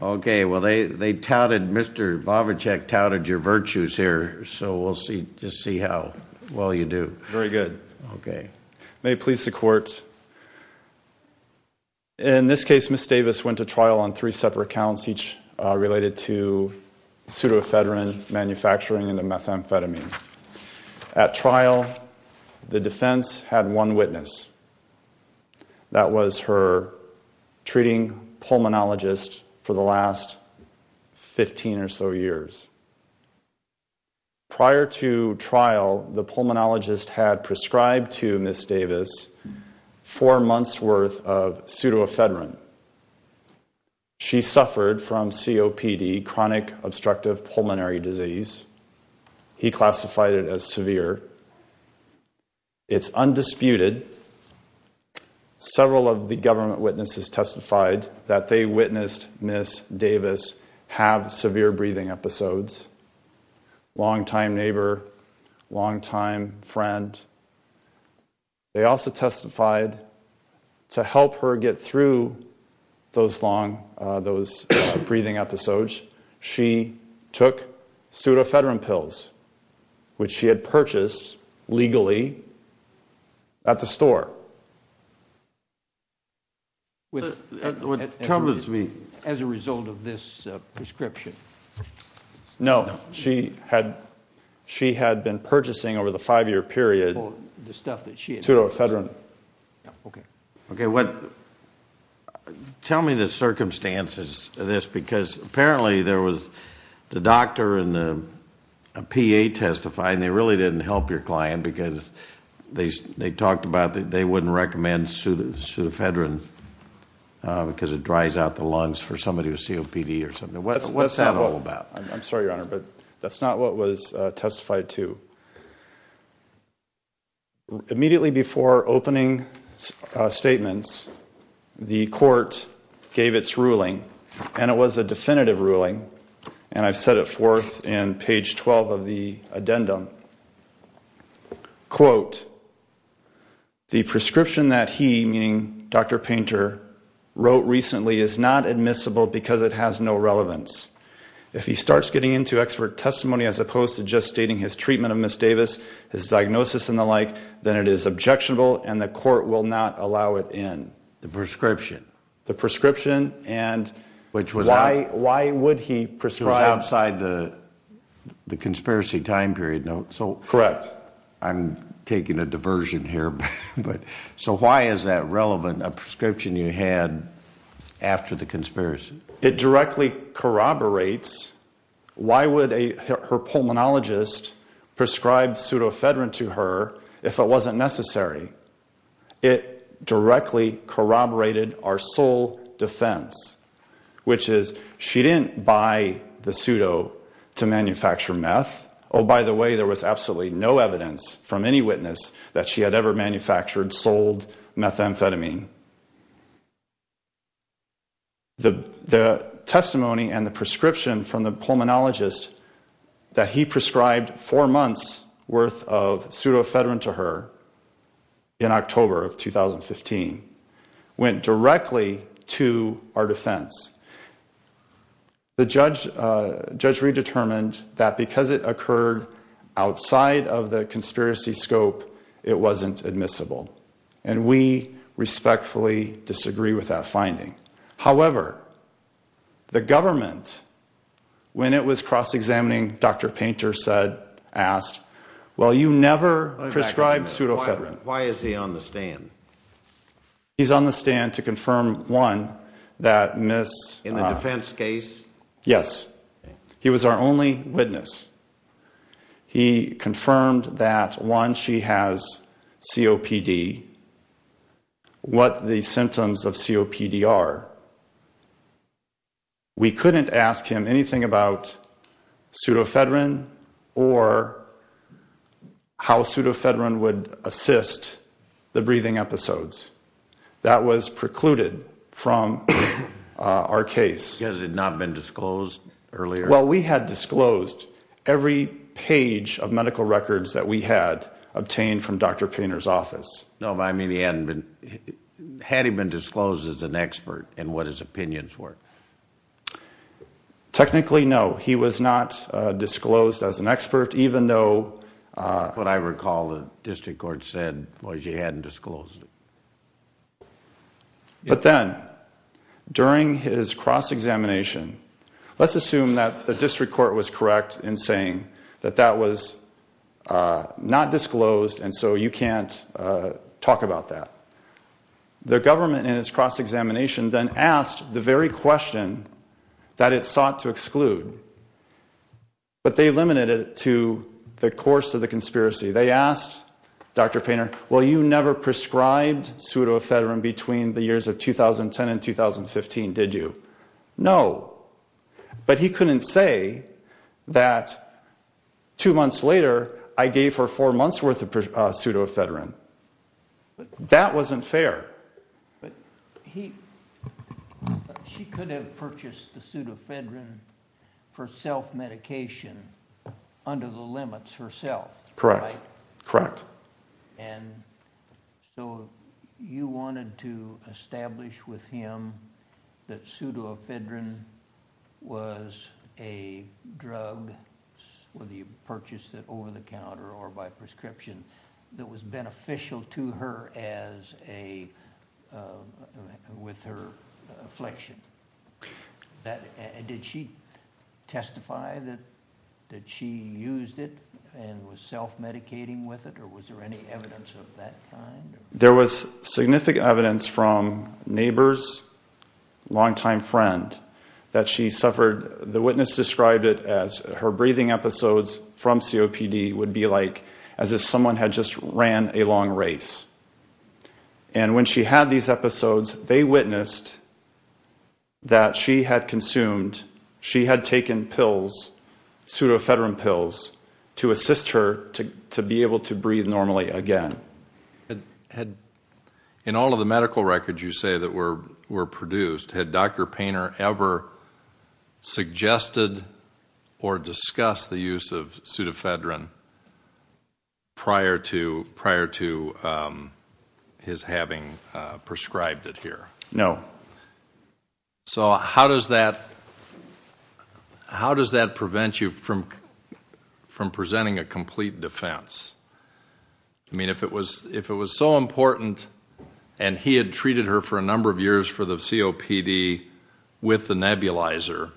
Okay, well, they they touted Mr. Bovichek touted your virtues here, so we'll see just see how well you do very good Okay, may it please the court In this case miss Davis went to trial on three separate counts each related to pseudoephedrine manufacturing in the methamphetamine at trial The defense had one witness That was her Treating pulmonologist for the last 15 or so years Prior to trial the pulmonologist had prescribed to miss Davis four months worth of pseudoephedrine She suffered from COPD chronic obstructive pulmonary disease He classified it as severe It's undisputed Several of the government witnesses testified that they witnessed miss Davis have severe breathing episodes longtime neighbor longtime friend They also testified To help her get through Those long those breathing episodes. She took pseudoephedrine pills Which she had purchased legally At the store With Tumblers me as a result of this prescription No, she had She had been purchasing over the five-year period The stuff that she pseudoephedrine Okay, okay what? tell me the circumstances of this because apparently there was the doctor and the PA testifying they really didn't help your client because they they talked about that. They wouldn't recommend pseudoephedrine Because it dries out the lungs for somebody with COPD or something. What's that all about? I'm sorry your honor, but that's not what was testified to Immediately before opening statements the court Gave its ruling and it was a definitive ruling and I've set it forth and page 12 of the addendum Quote The prescription that he meaning dr. Painter Wrote recently is not admissible because it has no relevance If he starts getting into expert testimony as opposed to just stating his treatment of miss Davis his diagnosis and the like Then it is objectionable and the court will not allow it in the prescription the prescription and Which was why why would he prescribe outside the? The conspiracy time period note so correct. I'm taking a diversion here But so why is that relevant a prescription you had? After the conspiracy it directly corroborates Why would a her pulmonologist? Prescribed pseudoephedrine to her if it wasn't necessary It directly corroborated our sole defense Which is she didn't buy the pseudo to manufacture meth Oh, by the way, there was absolutely no evidence from any witness that she had ever manufactured sold methamphetamine The the testimony and the prescription from the pulmonologist That he prescribed four months worth of pseudoephedrine to her in October of 2015 Went directly to our defense the judge Judge redetermined that because it occurred Outside of the conspiracy scope. It wasn't admissible and we respectfully disagree with that finding however the government When it was cross-examining, dr. Painter said asked well you never prescribed pseudoephedrine Why is he on the stand? He's on the stand to confirm one that miss in the defense case. Yes. He was our only witness He confirmed that one she has COPD What the symptoms of COPD are? We couldn't ask him anything about Pseudoephedrine or How pseudoephedrine would assist the breathing episodes that was precluded from Our case has it not been disclosed earlier? Well, we had disclosed every page of medical records that we had obtained from dr. Painter's office No, I mean he hadn't been Had he been disclosed as an expert and what his opinions were Technically no, he was not disclosed as an expert even though What I recall the district court said was you hadn't disclosed it But then During his cross-examination. Let's assume that the district court was correct in saying that that was Not disclosed and so you can't talk about that Their government in his cross-examination then asked the very question that it sought to exclude But they limited it to the course of the conspiracy. They asked dr. Painter Well, you never prescribed pseudoephedrine between the years of 2010 and 2015. Did you know? but he couldn't say that Two months later I gave her four months worth of pseudoephedrine But that wasn't fair She could have purchased the pseudoephedrine for self medication Under the limits herself, correct, correct So you wanted to establish with him that pseudoephedrine was a drug Whether you purchased it over-the-counter or by prescription that was beneficial to her as a With her affliction that and did she testify that That she used it and was self medicating with it or was there any evidence of that? There was significant evidence from neighbors Longtime friend that she suffered the witness described it as her breathing episodes from COPD would be like as if someone had just ran a long race and When she had these episodes they witnessed That she had consumed she had taken pills Pseudoephedrine pills to assist her to be able to breathe normally again had In all of the medical records you say that were were produced had dr. Painter ever Suggested or discussed the use of pseudoephedrine prior to prior to His having prescribed it here. No So, how does that? How does that prevent you from from presenting a complete defense I Was if it was so important and he had treated her for a number of years for the COPD with the nebulizer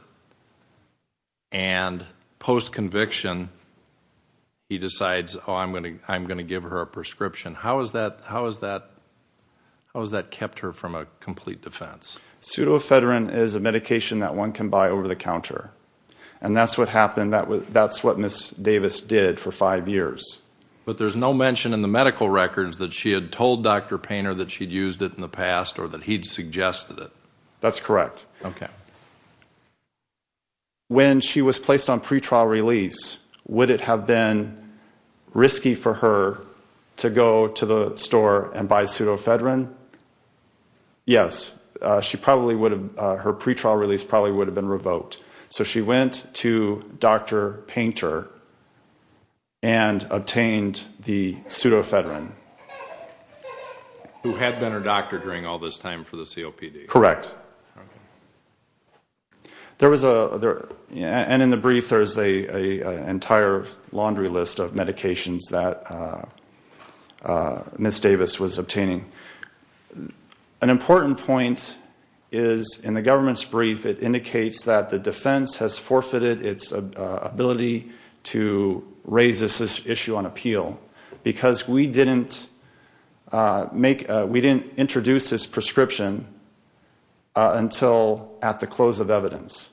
and Post conviction He decides oh, I'm gonna I'm gonna give her a prescription. How is that? How is that? How is that kept her from a complete defense? Pseudoephedrine is a medication that one can buy over-the-counter and that's what happened that was that's what miss Davis did for five years But there's no mention in the medical records that she had told dr. Painter that she'd used it in the past or that he'd Suggested it. That's correct. Okay When she was placed on pretrial release would it have been Risky for her to go to the store and buy pseudoephedrine Yes, she probably would have her pretrial release probably would have been revoked. So she went to dr. Painter and obtained the pseudoephedrine Who had been her doctor during all this time for the COPD, correct There was a there and in the brief, there's a entire laundry list of medications that Miss Davis was obtaining an important point is In the government's brief. It indicates that the defense has forfeited its Ability to raise this issue on appeal because we didn't Make we didn't introduce this prescription until at the close of evidence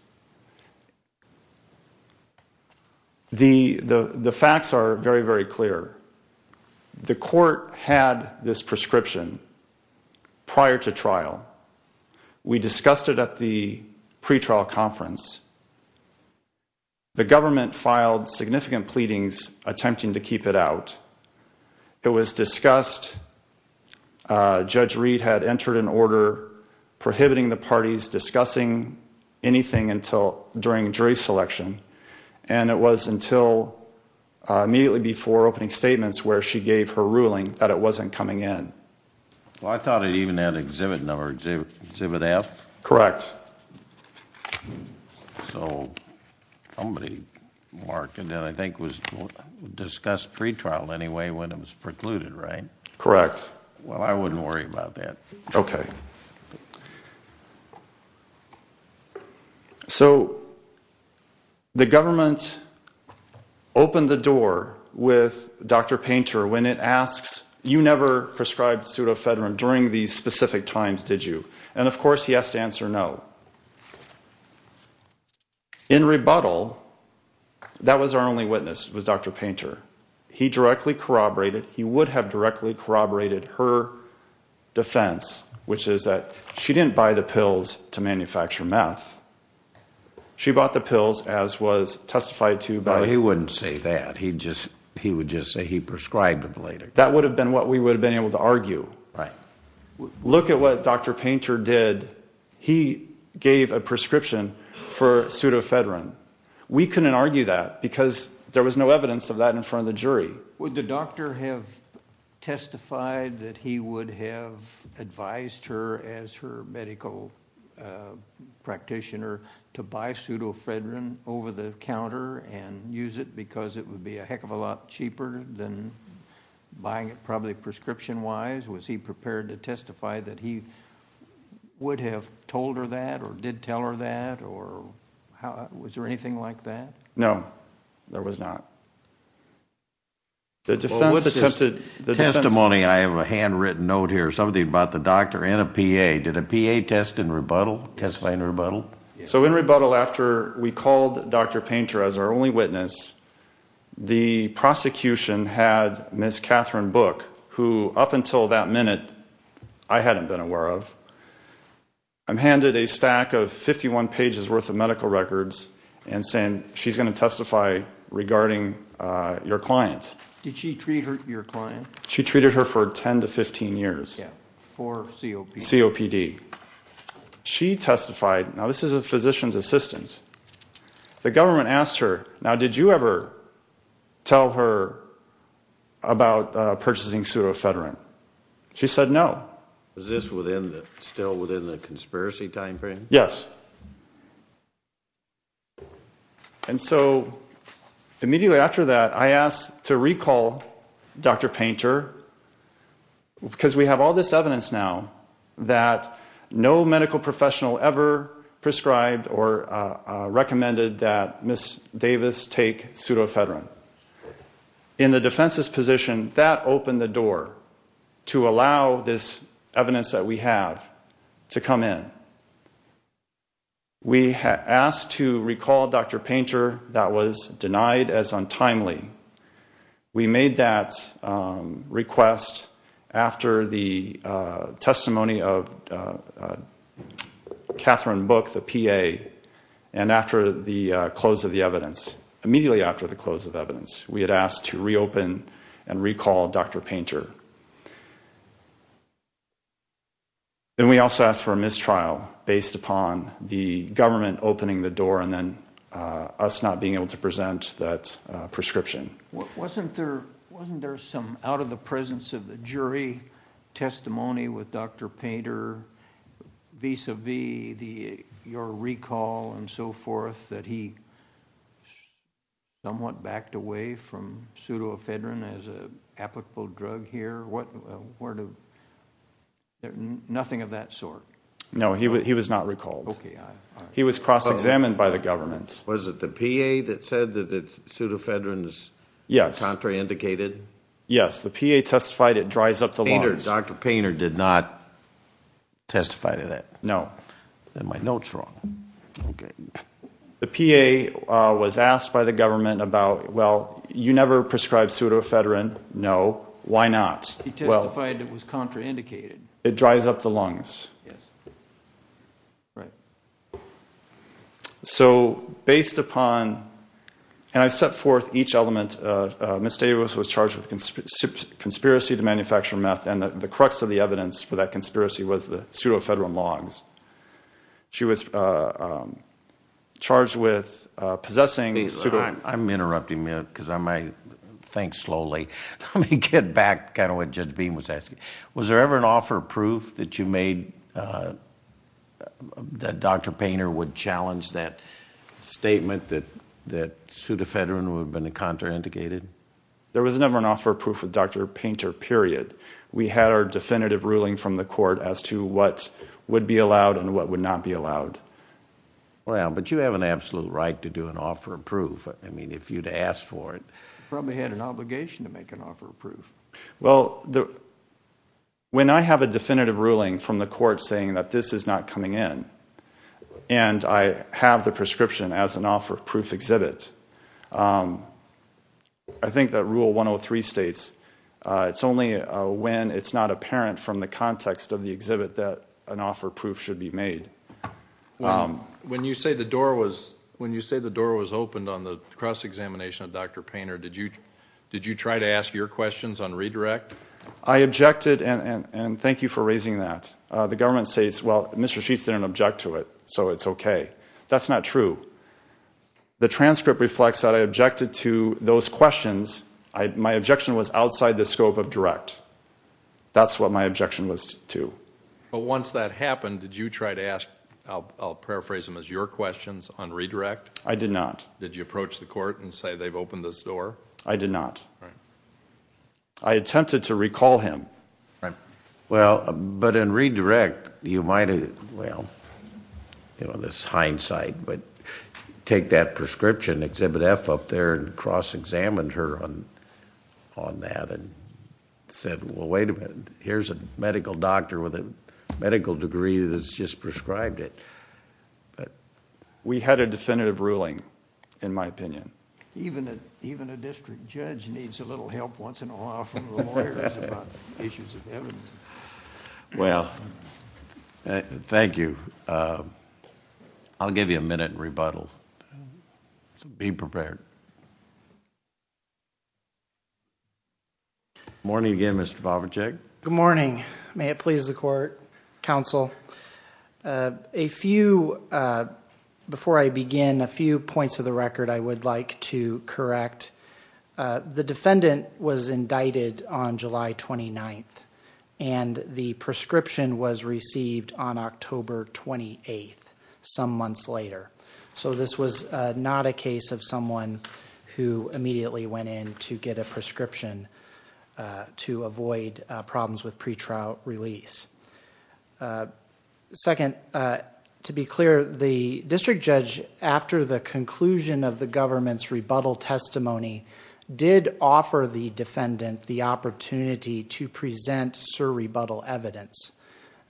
The the the facts are very very clear The court had this prescription prior to trial We discussed it at the pretrial conference The government filed significant pleadings attempting to keep it out. It was discussed Judge Reed had entered an order prohibiting the party's discussing anything until during jury selection and it was until Immediately before opening statements where she gave her ruling that it wasn't coming in Well, I thought it even had exhibit number exhibit F. Correct So Somebody Marked and then I think was Discussed pretrial anyway when it was precluded, right? Correct. Well, I wouldn't worry about that. Okay So the government Opened the door with dr. Painter when it asks you never prescribed Pseudofedrin during these specific times. Did you and of course he has to answer no In rebuttal That was our only witness was dr. Painter. He directly corroborated. He would have directly corroborated her Defense, which is that she didn't buy the pills to manufacture meth She bought the pills as was testified to but he wouldn't say that he just he would just say he prescribed them later That would have been what we would have been able to argue, right? Look at what? Dr. Painter did he gave a prescription for? Pseudofedrin we couldn't argue that because there was no evidence of that in front of the jury. Would the doctor have Testified that he would have advised her as her medical Practitioner to buy pseudofedrin over-the-counter and use it because it would be a heck of a lot cheaper than Buying it probably prescription wise was he prepared to testify that he Would have told her that or did tell her that or how was there anything like that? No, there was not The Tested the testimony. I have a handwritten note here something about the doctor and a PA did a PA test in rebuttal test plain Rebuttal so in rebuttal after we called dr. Painter as our only witness the Prosecution had miss Catherine book who up until that minute. I hadn't been aware of I'm handed a stack of 51 pages worth of medical records and saying she's going to testify Regarding your clients. Did she treat her your client? She treated her for 10 to 15 years for COPD She testified now. This is a physician's assistant The government asked her now. Did you ever? Tell her About purchasing pseudofedrin. She said no is this within that still within the conspiracy timeframe? Yes And so immediately after that I asked to recall dr. Painter because we have all this evidence now that no medical professional ever prescribed or Recommended that miss Davis take pseudofedrin In the defense's position that opened the door to allow this evidence that we have to come in We asked to recall dr. Painter that was denied as untimely we made that request after the testimony of Catherine book the PA and After the close of the evidence immediately after the close of evidence. We had asked to reopen and recall. Dr. Painter Then we also asked for a mistrial based upon the government opening the door and then Us not being able to present that Prescription wasn't there wasn't there some out of the presence of the jury? testimony with dr. Painter Vis-a-vis the your recall and so forth that he Somewhat backed away from Pseudofedrin as a applicable drug here. What were two? Nothing of that sort. No, he was not recalled. Okay. He was cross-examined by the government's Was it the PA that said that it's pseudofedrin is yes contrary indicated. Yes, the PA testified it dries up the lawyers Dr. Painter did not Testify to that. No, then my notes wrong The PA was asked by the government about well, you never prescribed pseudofedrin. No, why not? It dries up the lungs So based upon And I've set forth each element Miss Davis was charged with Conspiracy to manufacture meth and that the crux of the evidence for that conspiracy was the pseudofedrin logs she was Charged with Possessing a suit. I'm interrupting minute because I might think slowly Let me get back kind of what just beam was asking. Was there ever an offer proof that you made? That dr. Painter would challenge that Statement that that pseudofedrin would have been a contra indicated there was never an offer proof with dr. Painter period We had our definitive ruling from the court as to what would be allowed and what would not be allowed Well, but you have an absolute right to do an offer of proof I mean if you'd asked for it probably had an obligation to make an offer of proof. Well the when I have a definitive ruling from the court saying that this is not coming in and I have the prescription as an offer of proof exhibit I Think that rule 103 states It's only when it's not apparent from the context of the exhibit that an offer proof should be made When you say the door was when you say the door was opened on the cross-examination of dr. Painter Did you did you try to ask your questions on redirect? I objected and and thank you for raising that the government states Well, mr. Sheets didn't object to it. So it's okay. That's not true The transcript reflects that I objected to those questions. I my objection was outside the scope of direct That's what my objection was to but once that happened. Did you try to ask? I'll paraphrase them as your questions on redirect. I did not did you approach the court and say they've opened this door. I did not I Attempted to recall him, right? Well, but in redirect you might have well you know this hindsight, but take that prescription exhibit f up there and cross-examined her on on that and Said well, wait a minute. Here's a medical doctor with a medical degree. That's just prescribed it But we had a definitive ruling in my opinion Even it even a district judge needs a little help once in a while from Well, thank you, I'll give you a minute rebuttal so be prepared Morning again, mr. Favre check. Good morning. May it please the court counsel a few Before I begin a few points of the record, I would like to correct The defendant was indicted on July 29th And the prescription was received on October 28th some months later So this was not a case of someone who immediately went in to get a prescription to avoid problems with pretrial release Second To be clear the district judge after the conclusion of the government's rebuttal testimony Did offer the defendant the opportunity to present sir rebuttal evidence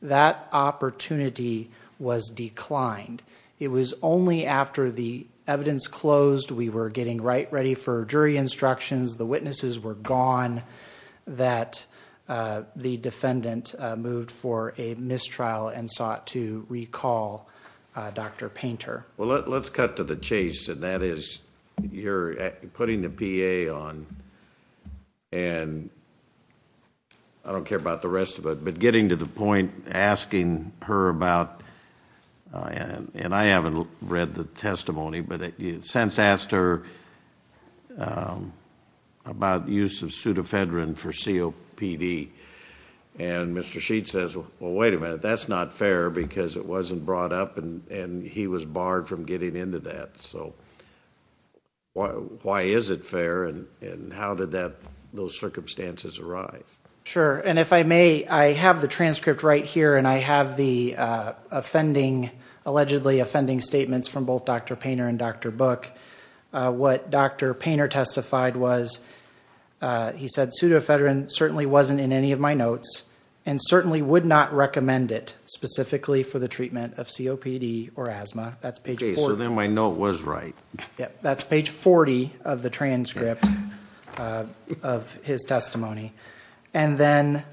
That opportunity was declined It was only after the evidence closed we were getting right ready for jury instructions. The witnesses were gone that The defendant moved for a mistrial and sought to recall Dr. Painter. Well, let's cut to the chase and that is you're putting the PA on and I Don't care about the rest of it, but getting to the point asking her about And I haven't read the testimony, but it since asked her About use of pseudofedrin for COPD and Mr. Sheets says well, wait a minute. That's not fair because it wasn't brought up and and he was barred from getting into that. So Why is it fair and and how did that those circumstances arise? sure, and if I may I have the transcript right here and I have the Offending allegedly offending statements from both. Dr. Painter and dr. Book What dr. Painter testified was He said pseudofedrin certainly wasn't in any of my notes and certainly would not recommend it Specifically for the treatment of COPD or asthma. That's page. So then I know it was right. Yeah, that's page 40 of the transcript of his testimony and then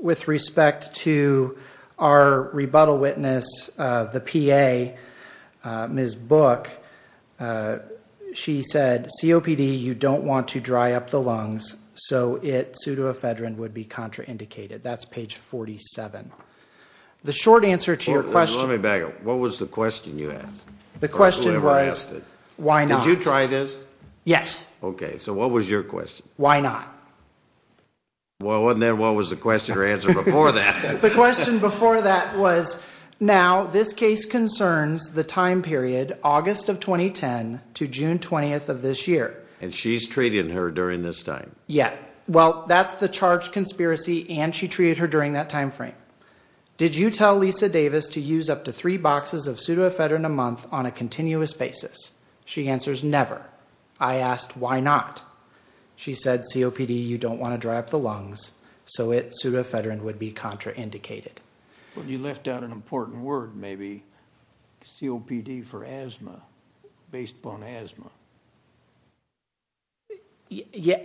with respect to our rebuttal witness the PA Ms. Book She said COPD you don't want to dry up the lungs. So it pseudofedrin would be contraindicated. That's page 47 The short answer to your question. Let me back up. What was the question? Yes, the question was why not you try this? Yes. Okay. So what was your question? Why not? Well, wasn't that what was the question or answer before that the question before that was now this case concerns the time period August of 2010 to June 20th of this year and she's treating her during this time. Yeah Well, that's the charge conspiracy and she treated her during that time frame Did you tell Lisa Davis to use up to three boxes of pseudofedrin a month on a continuous basis? She answers never I asked why not She said COPD you don't want to dry up the lungs. So it pseudofedrin would be contraindicated When you left out an important word, maybe COPD for asthma based upon asthma Yeah,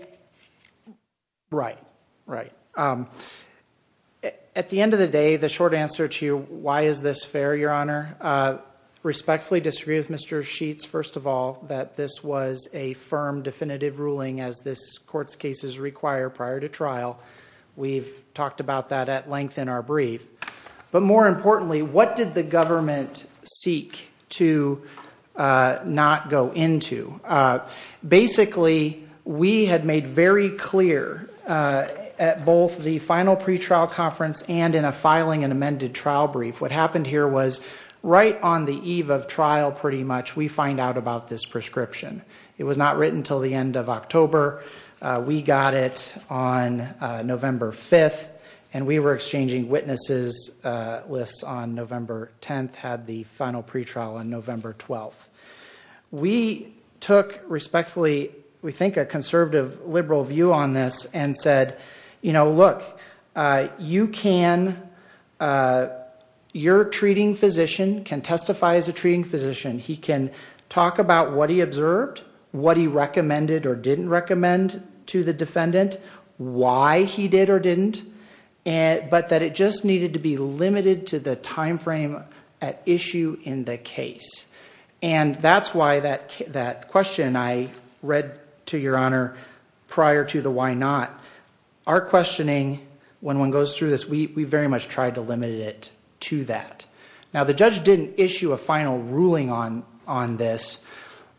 right, right At the end of the day the short answer to you why is this fair your honor Respectfully disagree with mr. Sheets. First of all that this was a firm definitive ruling as this court's cases require prior to trial We've talked about that at length in our brief, but more importantly, what did the government? seek to Not go into Basically, we had made very clear At both the final pretrial conference and in a filing and amended trial brief What happened here was right on the eve of trial pretty much we find out about this prescription It was not written till the end of October We got it on November 5th, and we were exchanging witnesses Lists on November 10th had the final pretrial on November 12th We took respectfully. We think a conservative liberal view on this and said, you know, look you can You're treating physician can testify as a treating physician He can talk about what he observed what he recommended or didn't recommend to the defendant Why he did or didn't and But that it just needed to be limited to the time frame at issue in the case And that's why that that question I read to your honor prior to the why not our Questioning when one goes through this we very much tried to limit it to that Now the judge didn't issue a final ruling on on this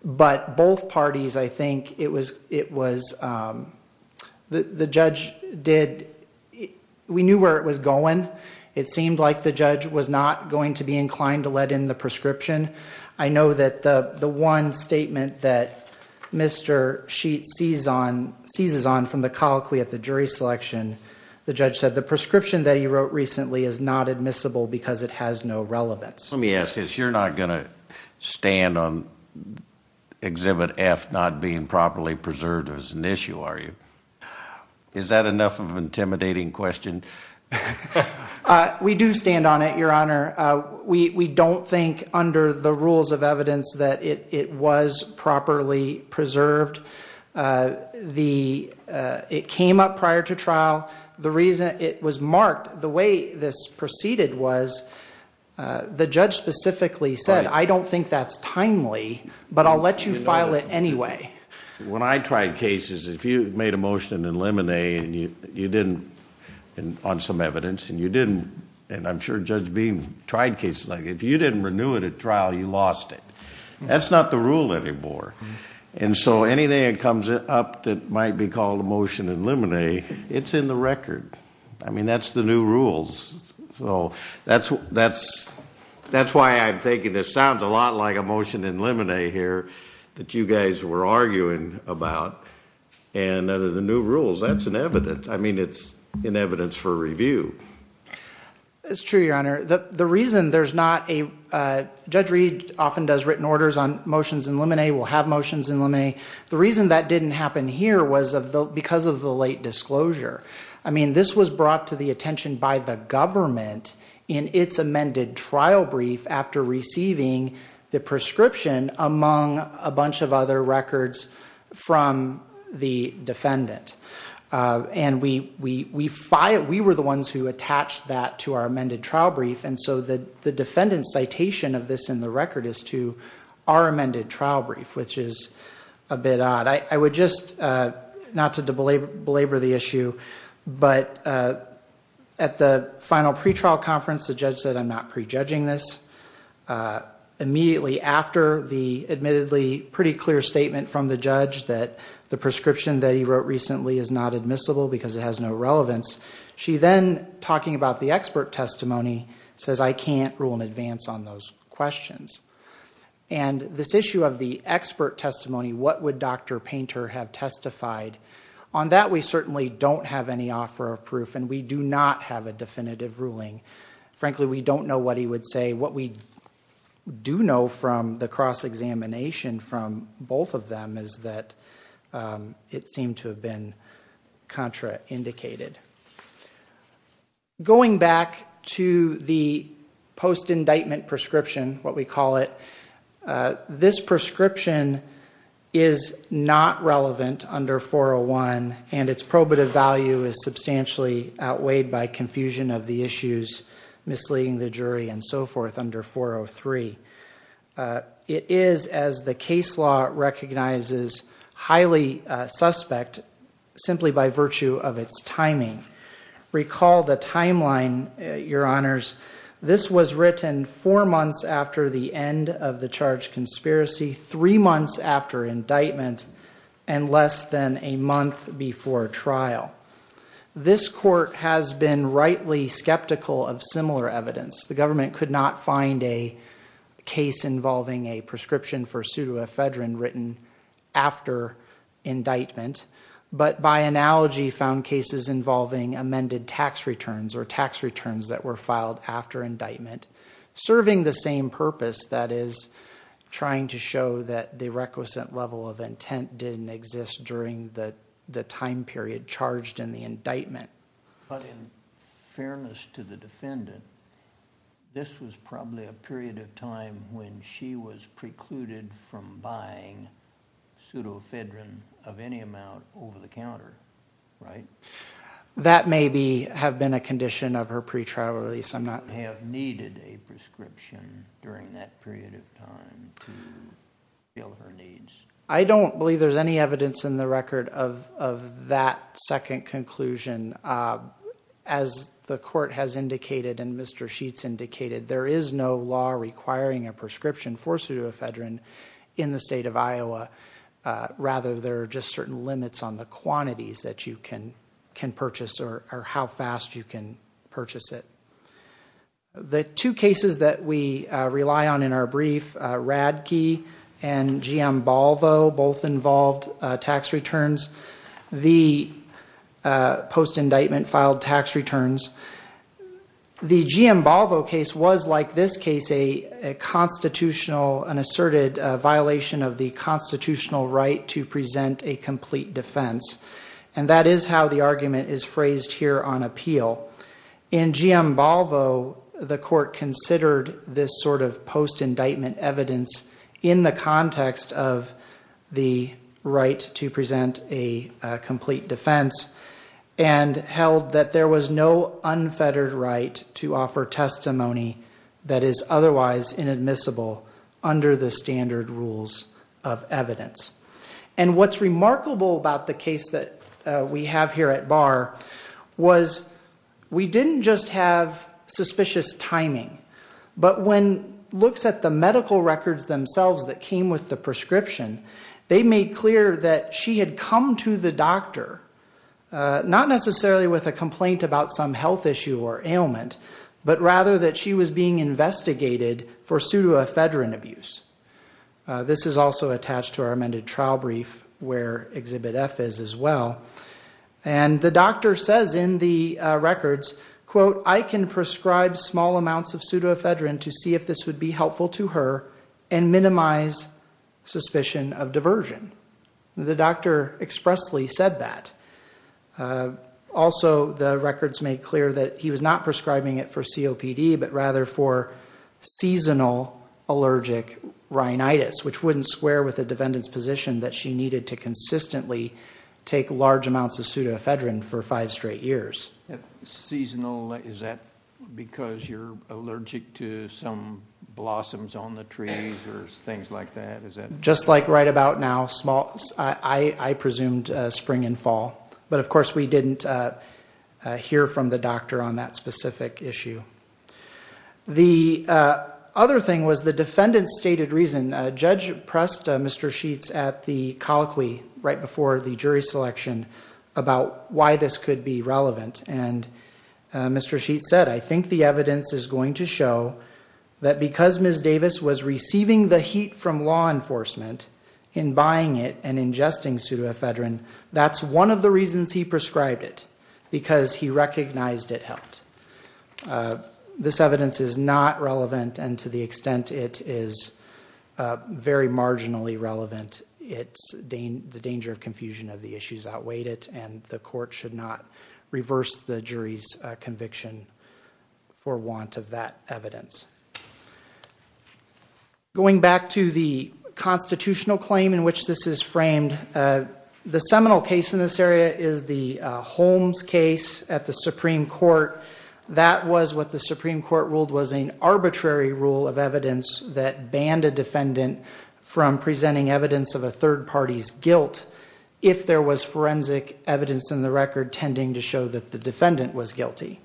But both parties I think it was it was The the judge did We knew where it was going. It seemed like the judge was not going to be inclined to let in the prescription I know that the the one statement that Mr. Sheets sees on seizes on from the colloquy at the jury selection The judge said the prescription that he wrote recently is not admissible because it has no relevance. Let me ask this you're not gonna stand on Exhibit F not being properly preserved as an issue. Are you is that enough of intimidating question? We do stand on it your honor We we don't think under the rules of evidence that it was properly preserved the It came up prior to trial. The reason it was marked the way this proceeded was The judge specifically said I don't think that's timely but I'll let you file it Anyway, when I tried cases if you made a motion in lemonade and you you didn't On some evidence and you didn't and I'm sure judge beam tried cases like if you didn't renew it at trial you lost it That's not the rule anymore. And so anything that comes up that might be called a motion in lemonade It's in the record. I mean, that's the new rules So, that's what that's That's why I'm thinking this sounds a lot like a motion in lemonade here that you guys were arguing about And under the new rules, that's an evidence. I mean, it's in evidence for review it's true your honor the the reason there's not a Judge Reid often does written orders on motions in lemonade will have motions in lemonade The reason that didn't happen here was of the because of the late disclosure I mean this was brought to the attention by the government in its amended trial brief after receiving The prescription among a bunch of other records from the defendant And we we we filed we were the ones who attached that to our amended trial brief And so the the defendant's citation of this in the record is to our amended trial brief, which is a bit odd I would just Not to belabor the issue but at the final pretrial conference the judge said I'm not prejudging this Immediately after the admittedly pretty clear statement from the judge that the prescription that he wrote recently is not admissible because it has no Relevance. She then talking about the expert testimony says I can't rule in advance on those questions and This issue of the expert testimony. What would dr. Painter have testified on that? We certainly don't have any offer of proof and we do not have a definitive ruling frankly, we don't know what he would say what we Do know from the cross-examination from both of them is that? It seemed to have been contra indicated Going back to the post indictment prescription what we call it this prescription is Not relevant under 401 and its probative value is substantially outweighed by confusion of the issues Misleading the jury and so forth under 403 It is as the case law recognizes highly suspect Simply by virtue of its timing Recall the timeline your honors This was written four months after the end of the charge conspiracy three months after Indictment and less than a month before trial This court has been rightly skeptical of similar evidence. The government could not find a case involving a prescription for pseudoephedrine written after Indictment but by analogy found cases involving amended tax returns or tax returns that were filed after indictment serving the same purpose that is Trying to show that the requisite level of intent didn't exist during the the time period charged in the indictment Fairness to the defendant This was probably a period of time when she was precluded from buying Pseudoephedrine of any amount over-the-counter, right? That may be have been a condition of her pretrial release. I'm not have needed a prescription during that period of time I don't believe there's any evidence in the record of that second conclusion as The court has indicated and mr. Indicated there is no law requiring a prescription for pseudoephedrine in the state of Iowa Rather, there are just certain limits on the quantities that you can can purchase or how fast you can purchase it the two cases that we rely on in our brief rad key and GM Balvo both involved tax returns the post indictment filed tax returns The GM Balvo case was like this case a constitutional an asserted violation of the Constitutional right to present a complete defense and that is how the argument is phrased here on appeal in GM Balvo the court considered this sort of post indictment evidence in the context of the right to present a complete defense and Held that there was no unfettered right to offer testimony that is otherwise inadmissible under the standard rules of evidence and what's remarkable about the case that we have here at bar was We didn't just have Suspicious timing but when looks at the medical records themselves that came with the prescription They made clear that she had come to the doctor Not necessarily with a complaint about some health issue or ailment, but rather that she was being investigated for pseudoephedrine abuse this is also attached to our amended trial brief where exhibit F is as well and The doctor says in the records quote I can prescribe small amounts of pseudoephedrine to see if this would be helpful to her and minimize suspicion of diversion The doctor expressly said that Also, the records made clear that he was not prescribing it for COPD, but rather for seasonal Allergic rhinitis, which wouldn't square with a defendant's position that she needed to consistently Take large amounts of pseudoephedrine for five straight years Seasonal is that because you're allergic to some About now small I I presumed spring and fall, but of course we didn't Hear from the doctor on that specific issue the Other thing was the defendants stated reason judge pressed. Mr sheets at the colloquy right before the jury selection about why this could be relevant and Mr. Sheets said I think the evidence is going to show that because miss Davis was receiving the heat from law enforcement In buying it and ingesting pseudoephedrine. That's one of the reasons he prescribed it because he recognized it helped this evidence is not relevant and to the extent it is Very marginally relevant. It's Dane the danger of confusion of the issues outweighed it and the court should not reverse the jury's conviction for want of that evidence Going back to the Constitutional claim in which this is framed The seminal case in this area is the Holmes case at the Supreme Court That was what the Supreme Court ruled was an arbitrary rule of evidence that banned a defendant From presenting evidence of a third party's guilt if there was forensic evidence in the record tending to show that the defendant was guilty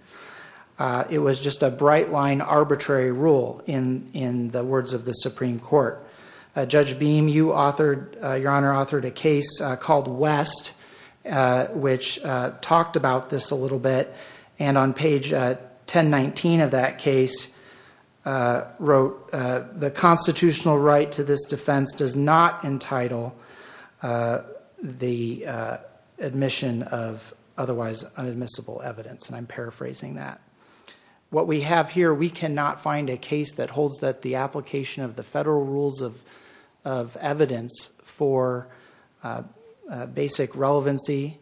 It was just a bright line arbitrary rule in in the words of the Supreme Court Judge beam you authored your honor authored a case called West Which talked about this a little bit and on page 10 19 of that case Wrote the constitutional right to this defense does not entitle The admission of otherwise unadmissible evidence and I'm paraphrasing that What we have here we cannot find a case that holds that the application of the federal rules of evidence for Basic relevancy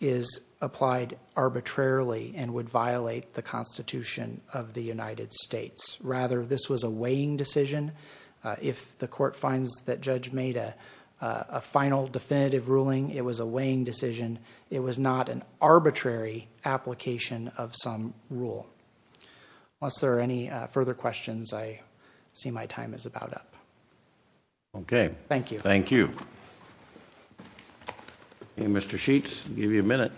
Is applied arbitrarily and would violate the Constitution of the United States rather This was a weighing decision if the court finds that judge made a Final definitive ruling it was a weighing decision. It was not an arbitrary Application of some rule Unless there are any further questions. I see my time is about up Okay. Thank you. Thank you Hey, mr. Sheets give you a minute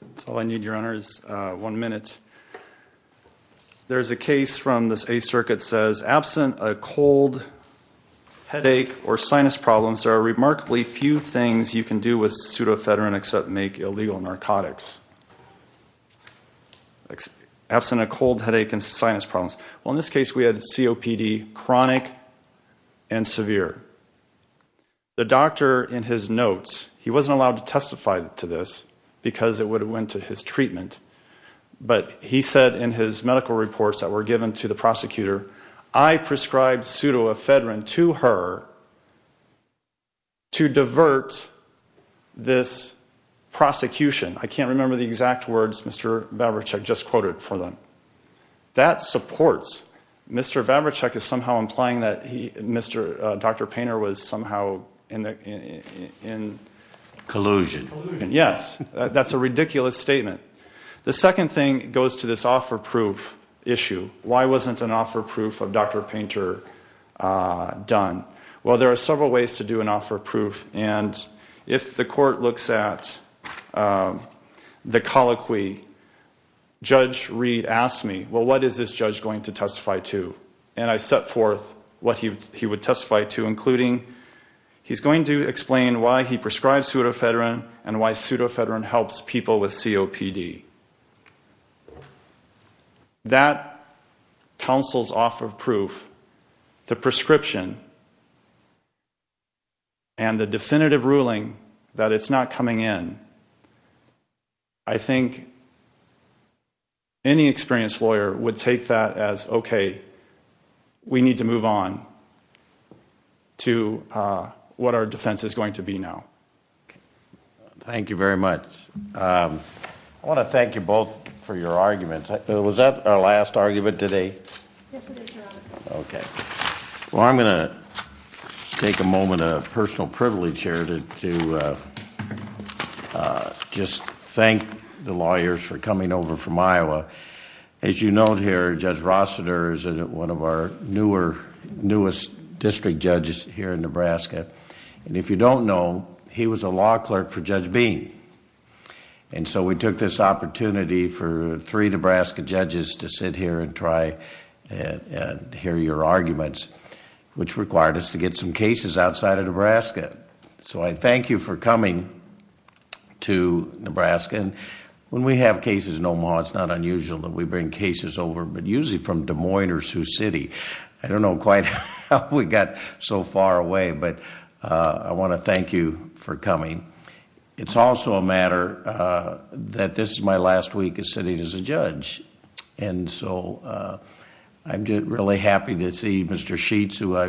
That's all I need your honors one minute There's a case from this a circuit says absent a cold Headache or sinus problems there are remarkably few things you can do with pseudofedrin except make illegal narcotics Absent a cold headache and sinus problems. Well in this case we had COPD chronic and severe The doctor in his notes. He wasn't allowed to testify to this because it would have went to his treatment But he said in his medical reports that were given to the prosecutor. I Prescribed pseudofedrin to her To divert this Prosecution. I can't remember the exact words. Mr. Babich. I've just quoted for them That supports. Mr. Babich is somehow implying that he mr. Dr. Painter was somehow in Collusion yes, that's a ridiculous statement. The second thing goes to this offer proof issue Why wasn't an offer proof of dr. Painter? Done. Well, there are several ways to do an offer proof and if the court looks at The colloquy Judge Reed asked me Well, what is this judge going to testify to and I set forth what he would testify to including? He's going to explain why he prescribed pseudofedrin and why pseudofedrin helps people with COPD That Counsel's off of proof the prescription and The definitive ruling that it's not coming in. I Think Any experienced lawyer would take that as okay, we need to move on To what our defense is going to be now Thank you very much. I Thank you both for your arguments. Was that our last argument today? Okay, well, I'm gonna take a moment of personal privilege here to Just thank the lawyers for coming over from Iowa as you note here judge Rossiter's and one of our newer newest district judges here in Nebraska, and if you don't know he was a law clerk for Judge Bean and So we took this opportunity for three, Nebraska judges to sit here and try and hear your arguments Which required us to get some cases outside of Nebraska, so I thank you for coming to Nebraska and when we have cases no more It's not unusual that we bring cases over but usually from Des Moines or Sioux City I don't know quite how we got so far away, but I want to thank you for coming It's also a matter That this is my last week is sitting as a judge and so I'm just really happy to see mr. Sheets who I